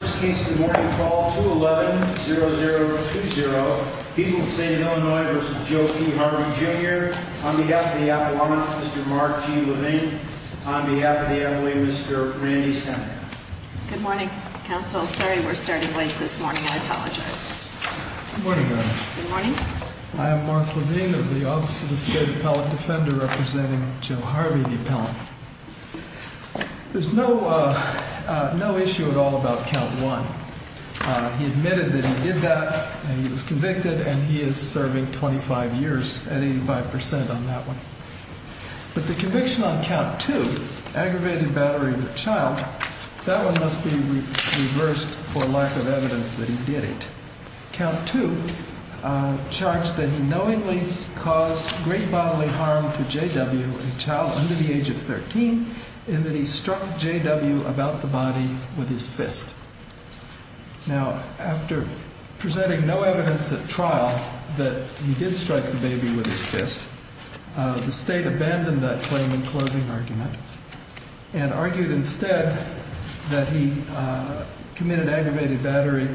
Good morning, counsel. Sorry we're starting late this morning. I apologize. I am Mark Levine of the Office of the State Appellate Defender representing Joe Harvey, the appellant. There's no issue at all about Count 1. He admitted that he did that, and he was convicted, and he is serving 25 years at 85% on that one. But the conviction on Count 2, aggravated battery of a child, that one must be reversed for lack of evidence that he did it. Count 2 charged that he knowingly caused great bodily harm to J.W., a child under the age of 13, and that he struck J.W. about the body with his fist. Now, after presenting no evidence at trial that he did strike the baby with his fist, the State abandoned that claim in closing argument, and argued instead that he committed aggravated battery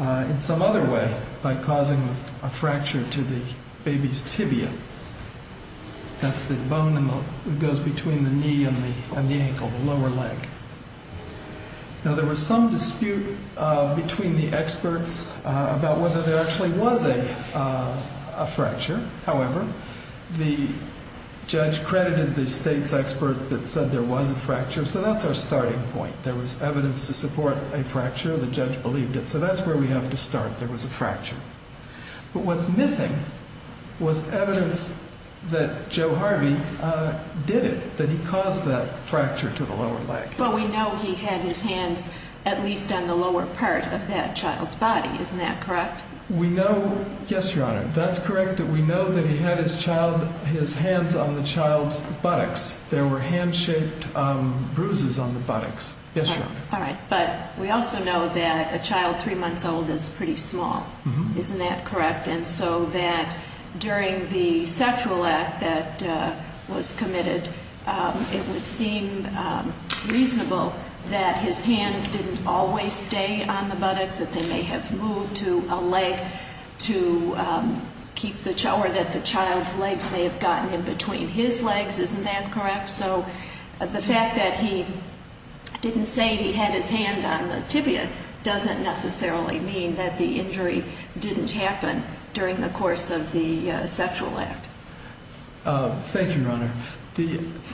in some other way by causing a fracture to the baby's tibia. That's the bone that goes between the knee and the ankle, the lower leg. Now there was some dispute between the experts about whether there actually was a fracture. However, the judge credited the State's expert that said there was a fracture, so that's our starting point. There was evidence to support a fracture, the judge believed it, so that's where we have to start, there was a fracture. But what's missing was evidence that Joe Harvey did it, that he caused that fracture to the lower leg. But we know he had his hands at least on the lower part of that child's body, isn't that correct? We know, yes, Your Honor, that's correct, that we know that he had his hands on the child's buttocks. There were hand-shaped bruises on the buttocks, yes, Your Honor. All right, but we also know that a child three months old is pretty small, isn't that correct? And so that during the sexual act that was committed, it would seem reasonable that his hands didn't always stay on the buttocks, that they may have moved to a leg to keep the child, or that the child's legs may have gotten in between his legs, isn't that correct? So the fact that he didn't say he had his hand on the tibia doesn't necessarily mean that the injury didn't happen during the course of the sexual act. Thank you, Your Honor.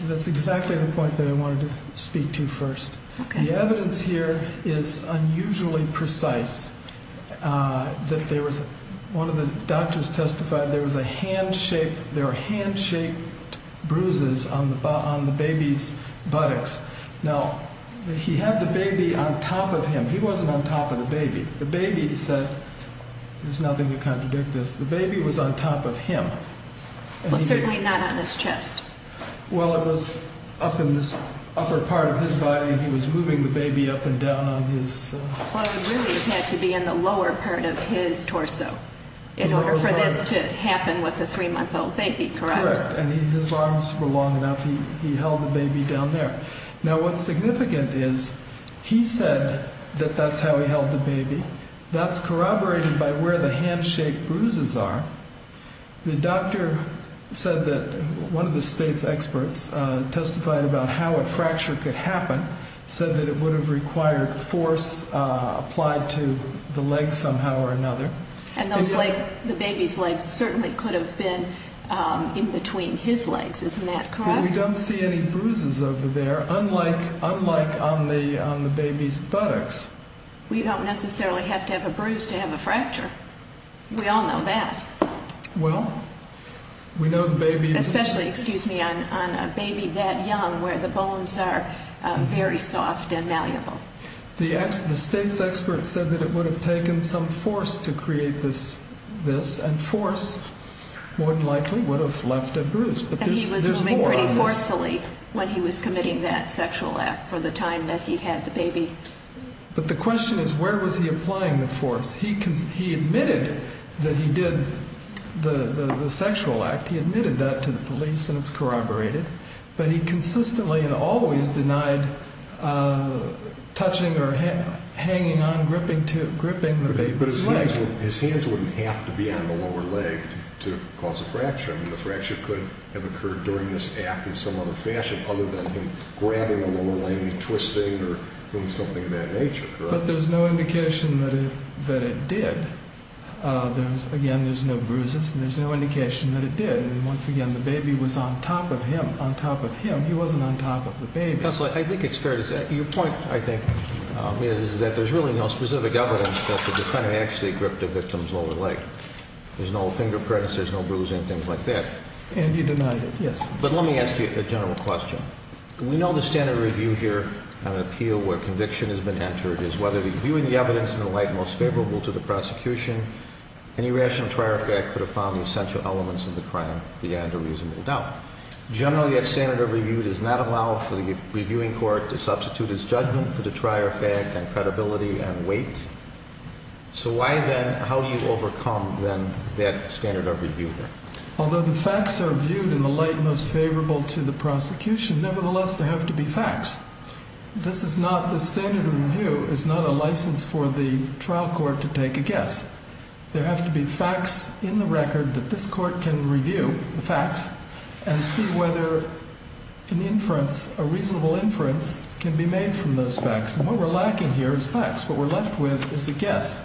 That's exactly the point that I wanted to speak to first. The evidence here is unusually precise. One of the doctors testified there were hand-shaped bruises on the baby's buttocks. Now, he had the baby on top of him. He wasn't on top of the baby. The baby said, there's nothing to contradict this, the baby was on top of him. Well, certainly not on his chest. Well, it was up in this upper part of his body, and he was moving the baby up and down on his... Well, it really had to be in the lower part of his torso in order for this to happen with a three-month-old baby, correct? Correct, and his arms were long enough, he held the baby down there. Now, what's significant is he said that that's how he held the baby. That's corroborated by where the hand-shaped bruises are. The doctor said that one of the state's experts testified about how a fracture could happen, said that it would have required force applied to the leg somehow or another. And the baby's legs certainly could have been in between his legs, isn't that correct? We don't see any bruises over there, unlike on the baby's buttocks. We don't necessarily have to have a bruise to have a fracture. We all know that. Well, we know the baby's... Especially, excuse me, on a baby that young where the bones are very soft and malleable. The state's experts said that it would have taken some force to create this, and force, more than likely, would have left a bruise. And he was moving pretty forcefully when he was committing that sexual act for the time that he had the baby. But the question is, where was he applying the force? He admitted that he did the sexual act. He admitted that to the police, and it's corroborated. But he consistently and always denied touching or hanging on, gripping the baby's leg. But his hands wouldn't have to be on the lower leg to cause a fracture. I mean, the fracture could have occurred during this act in some other fashion, other than him grabbing the lower leg and twisting or doing something of that nature, correct? But there's no indication that it did. Again, there's no bruises, and there's no indication that it did. And once again, the baby was on top of him, on top of him. He wasn't on top of the baby. Counselor, I think it's fair to say, your point, I think, is that there's really no specific evidence that the defendant actually gripped the victim's lower leg. There's no finger prints, there's no bruising, things like that. And he denied it, yes. But let me ask you a general question. We know the standard of review here on an appeal where conviction has been entered is whether reviewing the evidence in the light most favorable to the prosecution, any rational trier fact could have found the essential elements of the crime beyond a reasonable doubt. Generally, that standard of review does not allow for the reviewing court to substitute its judgment for the trier fact and credibility and weight. So why then, how do you overcome, then, that standard of review here? Although the facts are viewed in the light most favorable to the prosecution, nevertheless, there have to be facts. This is not, the standard of review is not a license for the trial court to take a guess. There have to be facts in the record that this court can review, the facts, and see whether an inference, a reasonable inference, can be made from those facts. And what we're lacking here is facts. What we're left with is a guess.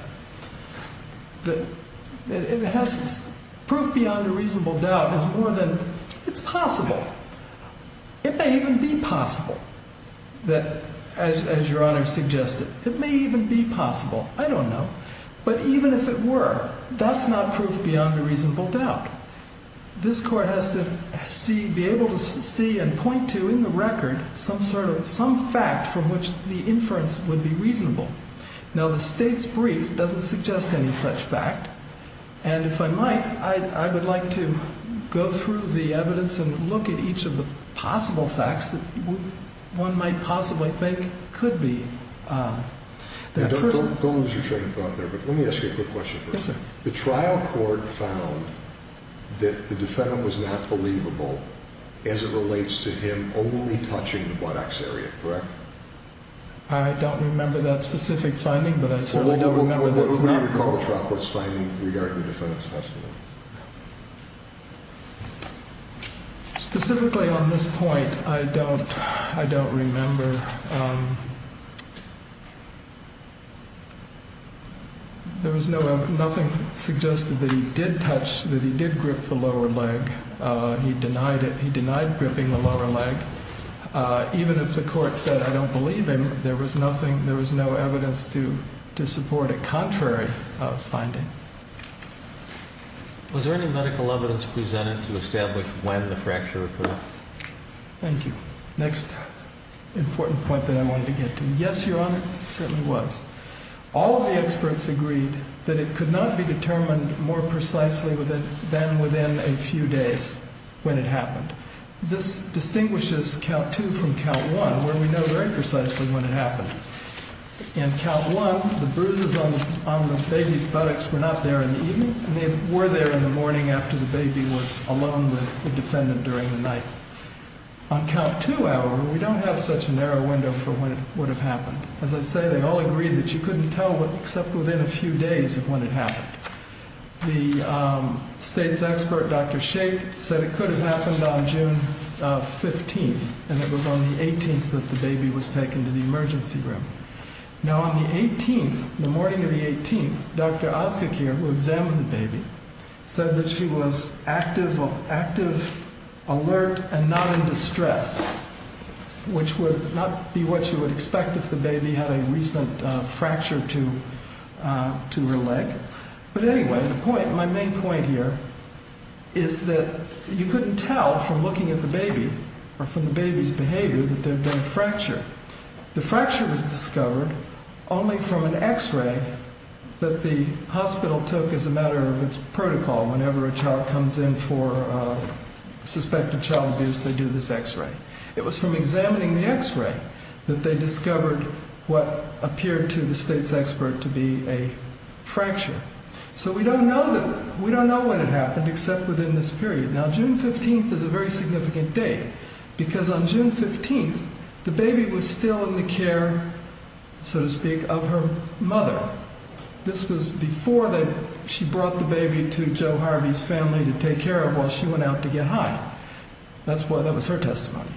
It has to, proof beyond a reasonable doubt is more than, it's possible. It may even be possible that, as Your Honor suggested, it may even be possible. I don't know. But even if it were, that's not proof beyond a reasonable doubt. This court has to see, be able to see and point to in the record some sort of, some fact from which the inference would be reasonable. Now, the state's brief doesn't suggest any such fact. And if I might, I would like to go through the evidence and look at each of the possible facts that one might possibly think could be that person. Don't lose your train of thought there, but let me ask you a quick question first. Yes, sir. The trial court found that the defendant was not believable as it relates to him only touching the buttocks area, correct? I don't remember that specific finding, but I certainly don't remember that it's not. What would you call the trial court's finding regarding the defendant's testimony? Specifically on this point, I don't, I don't remember. There was no, nothing suggested that he did touch, that he did grip the lower leg. He denied it. He denied gripping the lower leg. Even if the court said, I don't believe him, there was nothing, there was no evidence to support a contrary finding. Was there any medical evidence presented to establish when the fracture occurred? Thank you. Next important point that I wanted to get to. Yes, Your Honor, there certainly was. All of the experts agreed that it could not be determined more precisely than within a few days when it happened. This distinguishes Count II from Count I, where we know very precisely when it happened. In Count I, the bruises on the baby's buttocks were not there in the evening. They were there in the morning after the baby was alone with the defendant during the night. On Count II, however, we don't have such a narrow window for when it would have happened. As I say, they all agreed that you couldn't tell except within a few days of when it happened. The state's expert, Dr. Shaik, said it could have happened on June 15th, and it was on the 18th that the baby was taken to the emergency room. Now, on the 18th, the morning of the 18th, Dr. Ozkekir, who examined the baby, said that she was active, alert, and not in distress, which would not be what you would expect if the baby had a recent fracture to her leg. But anyway, my main point here is that you couldn't tell from looking at the baby or from the baby's behavior that there had been a fracture. The fracture was discovered only from an X-ray that the hospital took as a matter of its protocol. Whenever a child comes in for suspected child abuse, they do this X-ray. It was from examining the X-ray that they discovered what appeared to the state's expert to be a fracture. So we don't know when it happened except within this period. Now, June 15th is a very significant date because on June 15th, the baby was still in the care, so to speak, of her mother. This was before she brought the baby to Joe Harvey's family to take care of while she went out to get high. That was her testimony.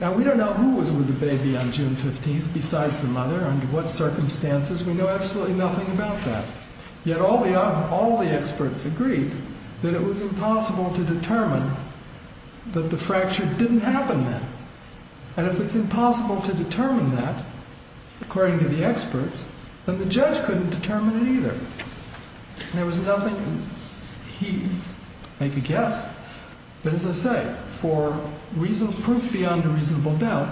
Now, we don't know who was with the baby on June 15th besides the mother, under what circumstances. We know absolutely nothing about that. Yet all the experts agreed that it was impossible to determine that the fracture didn't happen then. And if it's impossible to determine that, according to the experts, then the judge couldn't determine it either. There was nothing he could guess. But as I say, for proof beyond a reasonable doubt,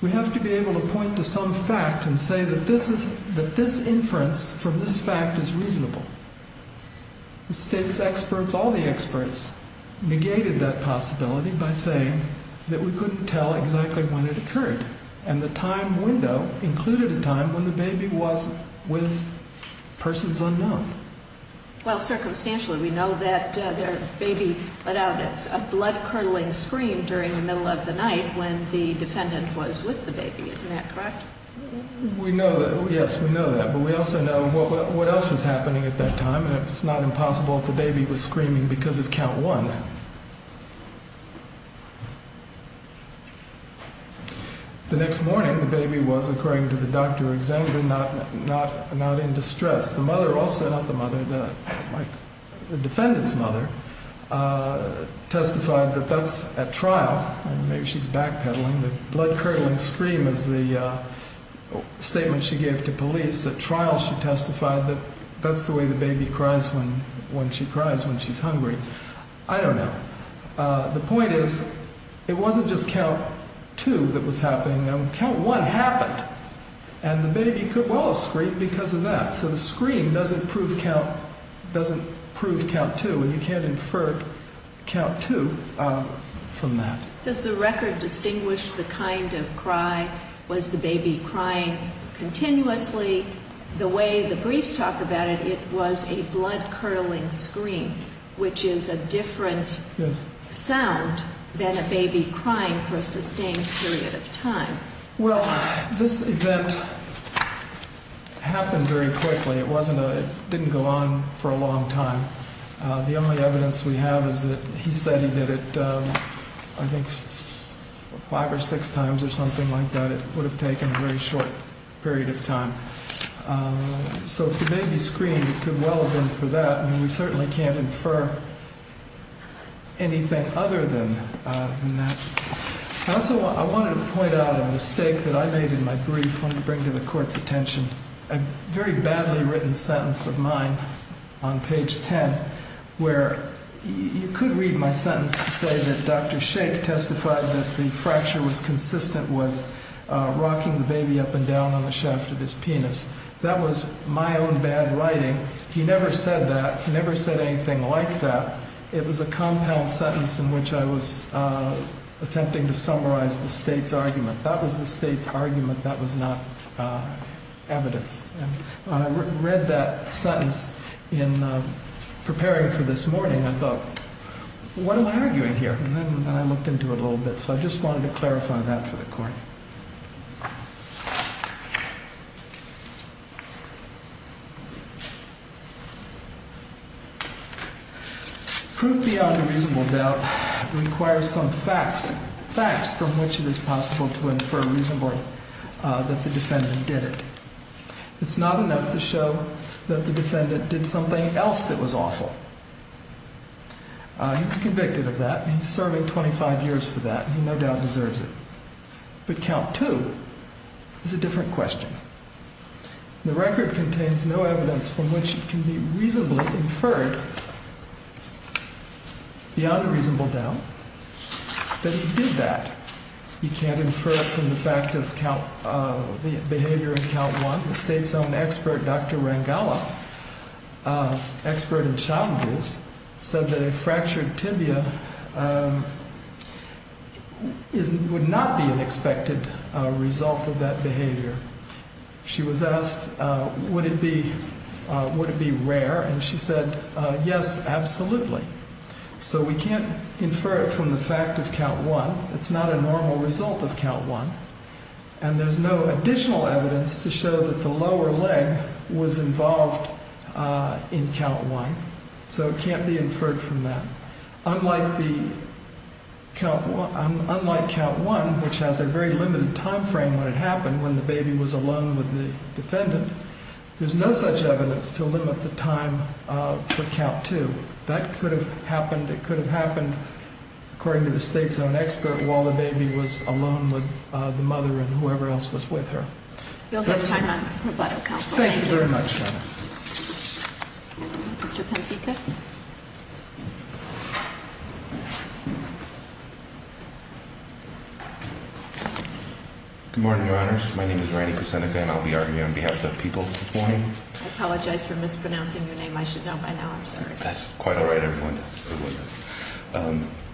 we have to be able to point to some fact and say that this inference from this fact is reasonable. The state's experts, all the experts, negated that possibility by saying that we couldn't tell exactly when it occurred. And the time window included a time when the baby was with persons unknown. Well, circumstantially, we know that the baby let out a blood-curdling scream during the middle of the night when the defendant was with the baby. Isn't that correct? We know that. Yes, we know that. But we also know what else was happening at that time, and it's not impossible that the baby was screaming because of count one. The next morning, the baby was, according to the doctor examined, not in distress. The mother also, not the mother, the defendant's mother, testified that that's at trial. Maybe she's backpedaling. The blood-curdling scream is the statement she gave to police at trial. She testified that that's the way the baby cries when she cries when she's hungry. I don't know. The point is it wasn't just count two that was happening. Count one happened, and the baby could well have screamed because of that. So the scream doesn't prove count two, and you can't infer count two from that. Does the record distinguish the kind of cry? Was the baby crying continuously? The way the briefs talk about it, it was a blood-curdling scream, which is a different sound than a baby crying for a sustained period of time. Well, this event happened very quickly. It didn't go on for a long time. The only evidence we have is that he said he did it, I think, five or six times or something like that. It would have taken a very short period of time. So if the baby screamed, it could well have been for that. I mean, we certainly can't infer anything other than that. Also, I wanted to point out a mistake that I made in my brief. Let me bring to the Court's attention a very badly written sentence of mine on page 10, where you could read my sentence to say that Dr. Shake testified that the fracture was consistent with rocking the baby up and down on the shaft of his penis. That was my own bad writing. He never said that. He never said anything like that. It was a compound sentence in which I was attempting to summarize the State's argument. That was the State's argument. That was not evidence. When I read that sentence in preparing for this morning, I thought, what am I arguing here? And then I looked into it a little bit. So I just wanted to clarify that for the Court. Proof beyond a reasonable doubt requires some facts, facts from which it is possible to infer reasonably that the defendant did it. It's not enough to show that the defendant did something else that was awful. He was convicted of that. He's serving 25 years for that. He no doubt deserves it. But count two is a different question. The record contains no evidence from which it can be reasonably inferred, beyond a reasonable doubt, that he did that. You can't infer it from the fact of behavior in count one. The State's own expert, Dr. Rangala, expert in child abuse, said that a fractured tibia would not be an expected result of that behavior. She was asked, would it be rare? And she said, yes, absolutely. So we can't infer it from the fact of count one. It's not a normal result of count one. And there's no additional evidence to show that the lower leg was involved in count one. So it can't be inferred from that. Unlike count one, which has a very limited time frame when it happened, when the baby was alone with the defendant, there's no such evidence to limit the time for count two. That could have happened, it could have happened, according to the State's own expert, while the baby was alone with the mother and whoever else was with her. You'll have time on rebuttal, counsel. Thank you very much, Your Honor. Mr. Pensica. Good morning, Your Honors. My name is Randy Pensica, and I'll be arguing on behalf of the people this morning. I apologize for mispronouncing your name. I should know by now, I'm sorry. That's quite all right, everyone.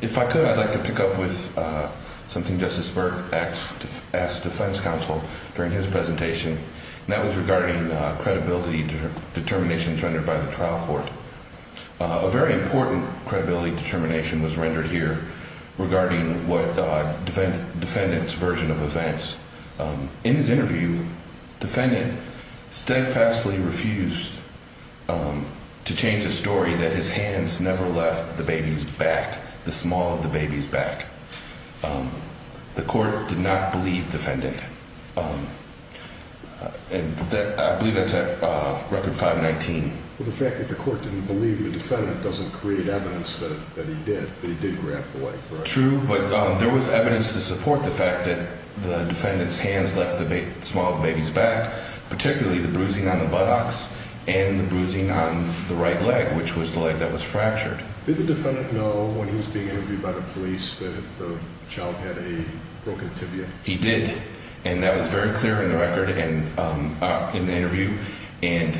If I could, I'd like to pick up with something Justice Burke asked defense counsel during his presentation, and that was regarding credibility determinations rendered by the trial court. A very important credibility determination was rendered here regarding what the defendant's version of events. In his interview, the defendant steadfastly refused to change the story that his hands never left the baby's back, the small of the baby's back. The court did not believe the defendant. I believe that's at Record 519. The fact that the court didn't believe the defendant doesn't create evidence that he did, that he did grab the boy. True, but there was evidence to support the fact that the defendant's hands left the small of the baby's back, particularly the bruising on the buttocks and the bruising on the right leg, which was the leg that was fractured. Did the defendant know when he was being interviewed by the police that the child had a broken tibia? He did, and that was very clear in the interview. And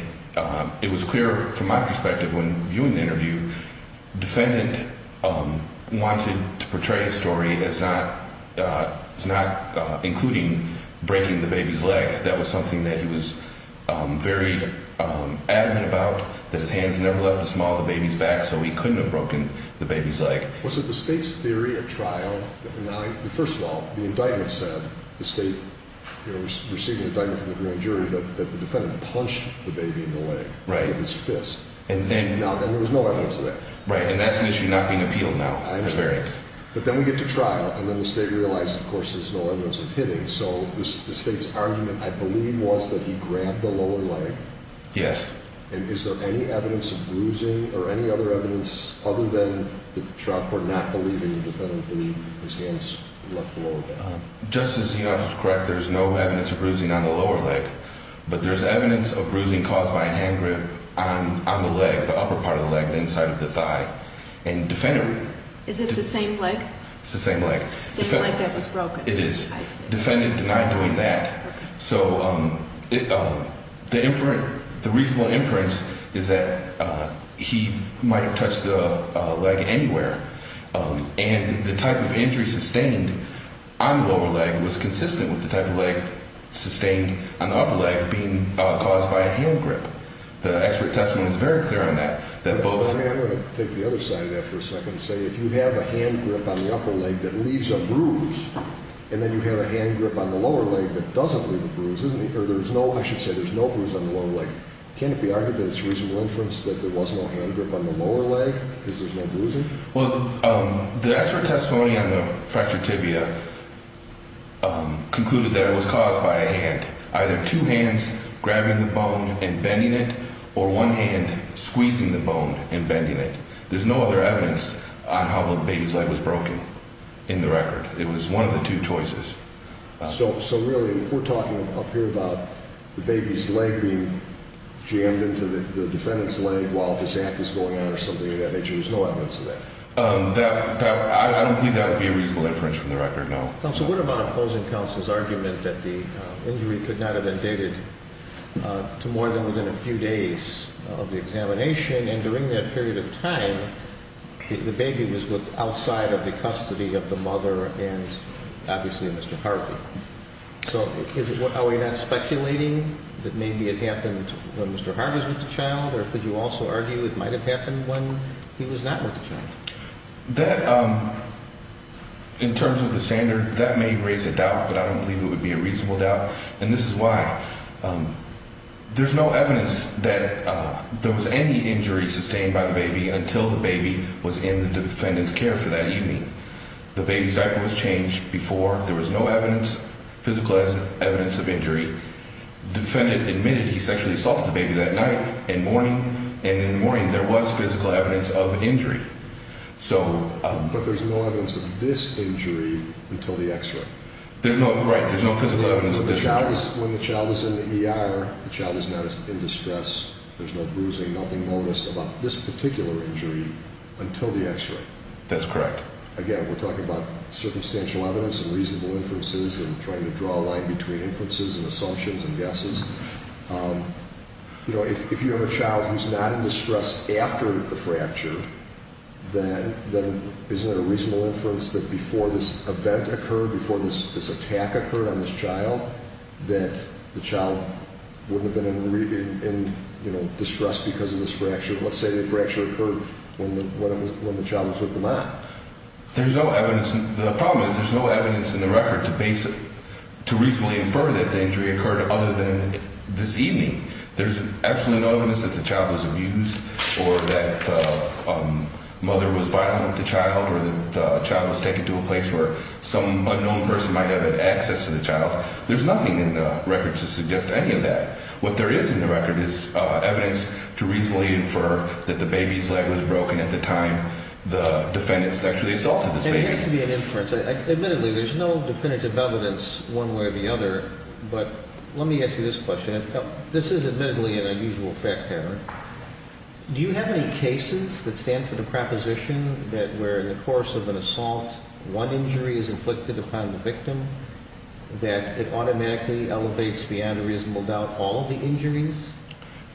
it was clear from my perspective when viewing the interview, the defendant wanted to portray the story as not including breaking the baby's leg. That was something that he was very adamant about, that his hands never left the small of the baby's back, so he couldn't have broken the baby's leg. Was it the State's theory at trial that denied? First of all, the indictment said, the State was receiving an indictment from the grand jury, that the defendant punched the baby in the leg with his fist, and there was no evidence of that. Right, and that's an issue not being appealed now. But then we get to trial, and then the State realized, of course, there's no evidence of hitting, so the State's argument, I believe, was that he grabbed the lower leg. Yes. And is there any evidence of bruising, or any other evidence, other than the trial court not believing the defendant would believe his hands left the lower leg? Justice, you're absolutely correct. There's no evidence of bruising on the lower leg, but there's evidence of bruising caused by a hand grip on the leg, the upper part of the leg, the inside of the thigh. And the defendant... Is it the same leg? It's the same leg. Same leg that was broken. It is. I see. The defendant denied doing that. Okay. So the inference, the reasonable inference is that he might have touched the leg anywhere, and the type of injury sustained on the lower leg was consistent with the type of leg sustained on the upper leg being caused by a hand grip. The expert testimony is very clear on that, that both... I'm going to take the other side of that for a second and say, if you have a hand grip on the upper leg that leaves a bruise, and then you have a hand grip on the lower leg that doesn't leave a bruise, isn't it? Or there's no... I should say there's no bruise on the lower leg. Can't it be argued that it's reasonable inference that there was no hand grip on the lower leg because there's no bruising? Well, the expert testimony on the fractured tibia concluded that it was caused by a hand, either two hands grabbing the bone and bending it, or one hand squeezing the bone and bending it. There's no other evidence on how the baby's leg was broken in the record. It was one of the two choices. So really, if we're talking up here about the baby's leg being jammed into the defendant's leg while this act is going on or something of that nature, there's no evidence of that? I don't think that would be a reasonable inference from the record, no. Counsel, what about opposing counsel's argument that the injury could not have been dated to more than within a few days of the examination, and during that period of time the baby was outside of the custody of the mother and obviously Mr. Harvey? So are we not speculating that maybe it happened when Mr. Harvey was with the child, or could you also argue it might have happened when he was not with the child? That, in terms of the standard, that may raise a doubt, but I don't believe it would be a reasonable doubt. And this is why. There's no evidence that there was any injury sustained by the baby until the baby was in the defendant's care for that evening. The baby's diaper was changed before. There was no evidence, physical evidence of injury. The defendant admitted he sexually assaulted the baby that night in the morning, and in the morning there was physical evidence of injury. But there's no evidence of this injury until the X-ray. Right, there's no physical evidence of this injury. When the child is in the ER, the child is not in distress. There's no bruising, nothing noticed about this particular injury until the X-ray. That's correct. Again, we're talking about circumstantial evidence and reasonable inferences and trying to draw a line between inferences and assumptions and guesses. You know, if you have a child who's not in distress after the fracture, then isn't it a reasonable inference that before this event occurred, before this attack occurred on this child, that the child wouldn't have been in distress because of this fracture? Let's say the fracture occurred when the child was with the mom. There's no evidence. The problem is there's no evidence in the record to reasonably infer that the injury occurred other than this evening. There's absolutely no evidence that the child was abused or that the mother was violent with the child or that the child was taken to a place where some unknown person might have had access to the child. There's nothing in the record to suggest any of that. What there is in the record is evidence to reasonably infer that the baby's leg was broken at the time the defendant sexually assaulted this baby. There needs to be an inference. Admittedly, there's no definitive evidence one way or the other, but let me ask you this question. This is admittedly an unusual fact pattern. Do you have any cases that stand for the proposition that where in the course of an assault, one injury is inflicted upon the victim, that it automatically elevates beyond a reasonable doubt all of the injuries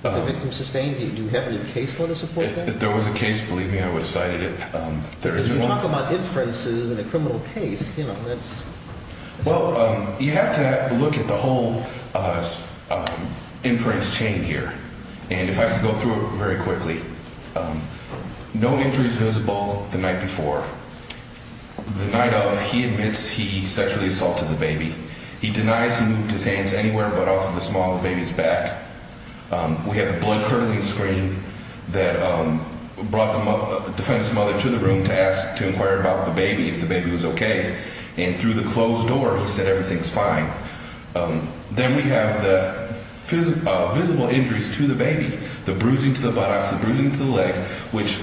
that the victim sustained? Do you have any case law to support that? If there was a case, believe me, I would have cited it. Because we talk about inferences in a criminal case. Well, you have to look at the whole inference chain here, and if I could go through it very quickly. No injury is visible the night before. The night of, he admits he sexually assaulted the baby. He denies he moved his hands anywhere but off of the small of the baby's back. We have the blood curdling screen that brought the defendant's mother to the room to inquire about the baby, if the baby was okay. And through the closed door, he said everything's fine. Then we have the visible injuries to the baby, the bruising to the buttocks, the bruising to the leg, which,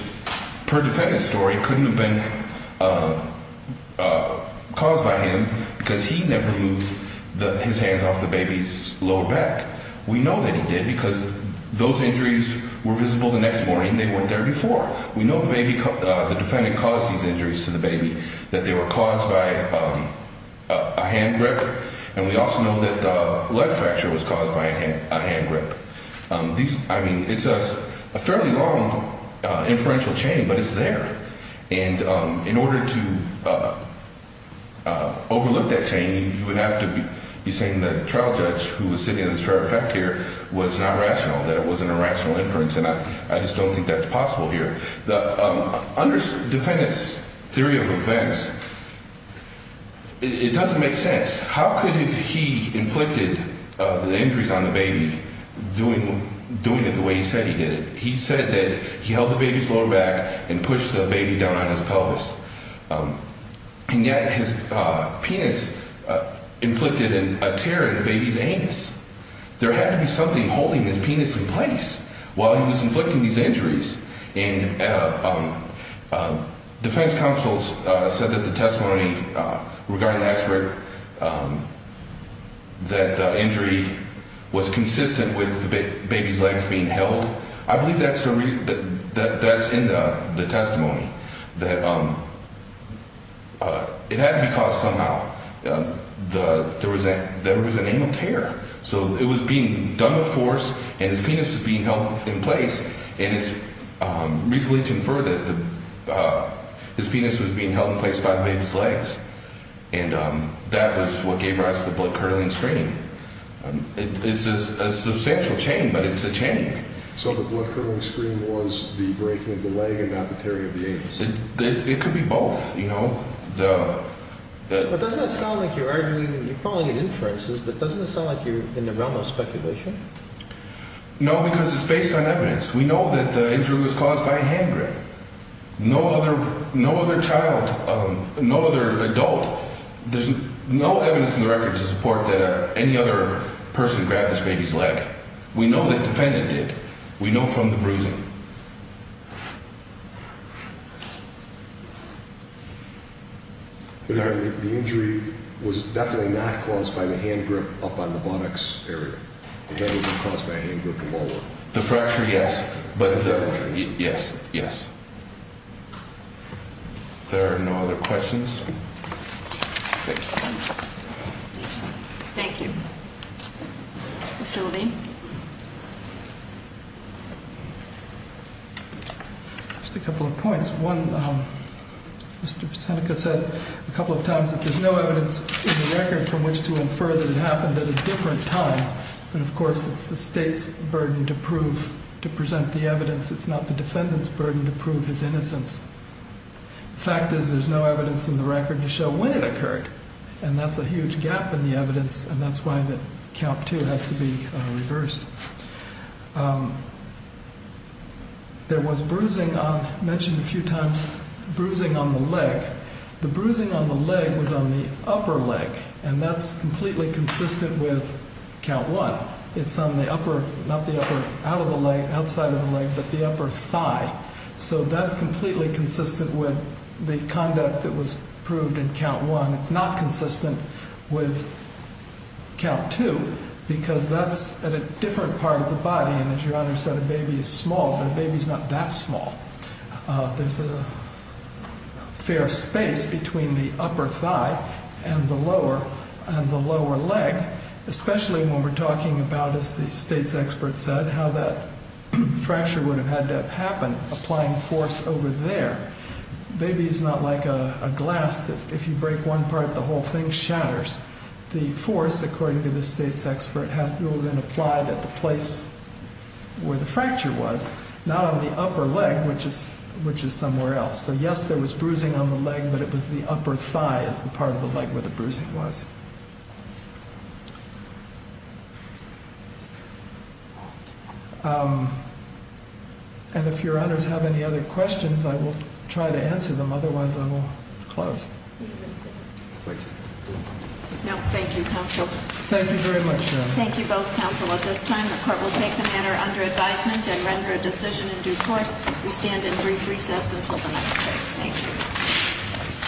per defendant's story, couldn't have been caused by him because he never moved his hands off the baby's lower back. We know that he did because those injuries were visible the next morning. They weren't there before. We know the defendant caused these injuries to the baby, that they were caused by a hand grip, and we also know that the leg fracture was caused by a hand grip. I mean, it's a fairly long inferential chain, but it's there. And in order to overlook that chain, you would have to be saying the trial judge, who was sitting on the Sheriff's back here, was not rational, that it wasn't a rational inference, and I just don't think that's possible here. Under defendant's theory of offense, it doesn't make sense. How could he, if he inflicted the injuries on the baby, doing it the way he said he did it? He said that he held the baby's lower back and pushed the baby down on his pelvis, and yet his penis inflicted a tear in the baby's anus. There had to be something holding his penis in place while he was inflicting these injuries. And defense counsels said that the testimony regarding the expert, that the injury was consistent with the baby's legs being held. I believe that's in the testimony, that it had to be caused somehow. There was an anal tear. So it was being done with force, and his penis was being held in place, and it's reasonably confirmed that his penis was being held in place by the baby's legs, and that was what gave rise to the blood-curdling screen. It's a substantial chain, but it's a chain. So the blood-curdling screen was the breaking of the leg and not the tearing of the anus. It could be both, you know. But doesn't it sound like you're arguing, you're following inferences, but doesn't it sound like you're in the realm of speculation? No, because it's based on evidence. We know that the injury was caused by a hand grip. No other child, no other adult, there's no evidence in the records to support that any other person grabbed this baby's leg. We know the defendant did. We know from the bruising. The injury was definitely not caused by the hand grip up on the buttocks area. It had to be caused by a hand grip to lower it. The fracture, yes. Yes, yes. If there are no other questions, thank you. Thank you. Mr. Levine? Just a couple of points. One, Mr. Seneca said a couple of times that there's no evidence in the record from which to infer that it happened at a different time, but of course it's the state's burden to prove, to present the evidence. It's not the defendant's burden to prove his innocence. The fact is there's no evidence in the record to show when it occurred, and that's a huge gap in the evidence, and that's why Calp 2 has to be reversed. There was bruising on, mentioned a few times, bruising on the leg. The bruising on the leg was on the upper leg, and that's completely consistent with Calp 1. It's on the upper, not the upper, out of the leg, outside of the leg, but the upper thigh. So that's completely consistent with the conduct that was proved in Calp 1. It's not consistent with Calp 2 because that's at a different part of the body, and as Your Honor said, a baby is small, but a baby's not that small. There's a fair space between the upper thigh and the lower leg, especially when we're talking about, as the state's expert said, how that fracture would have had to have happened applying force over there. A baby is not like a glass that if you break one part, the whole thing shatters. The force, according to the state's expert, would have been applied at the place where the fracture was, not on the upper leg, which is somewhere else. So yes, there was bruising on the leg, but it was the upper thigh as the part of the leg where the bruising was. And if Your Honors have any other questions, I will try to answer them. Otherwise, I will close. No, thank you, counsel. Thank you very much, Your Honor. Thank you both, counsel. At this time, the court will take the matter under advisement and render a decision in due course. We stand in brief recess until the next case. Thank you.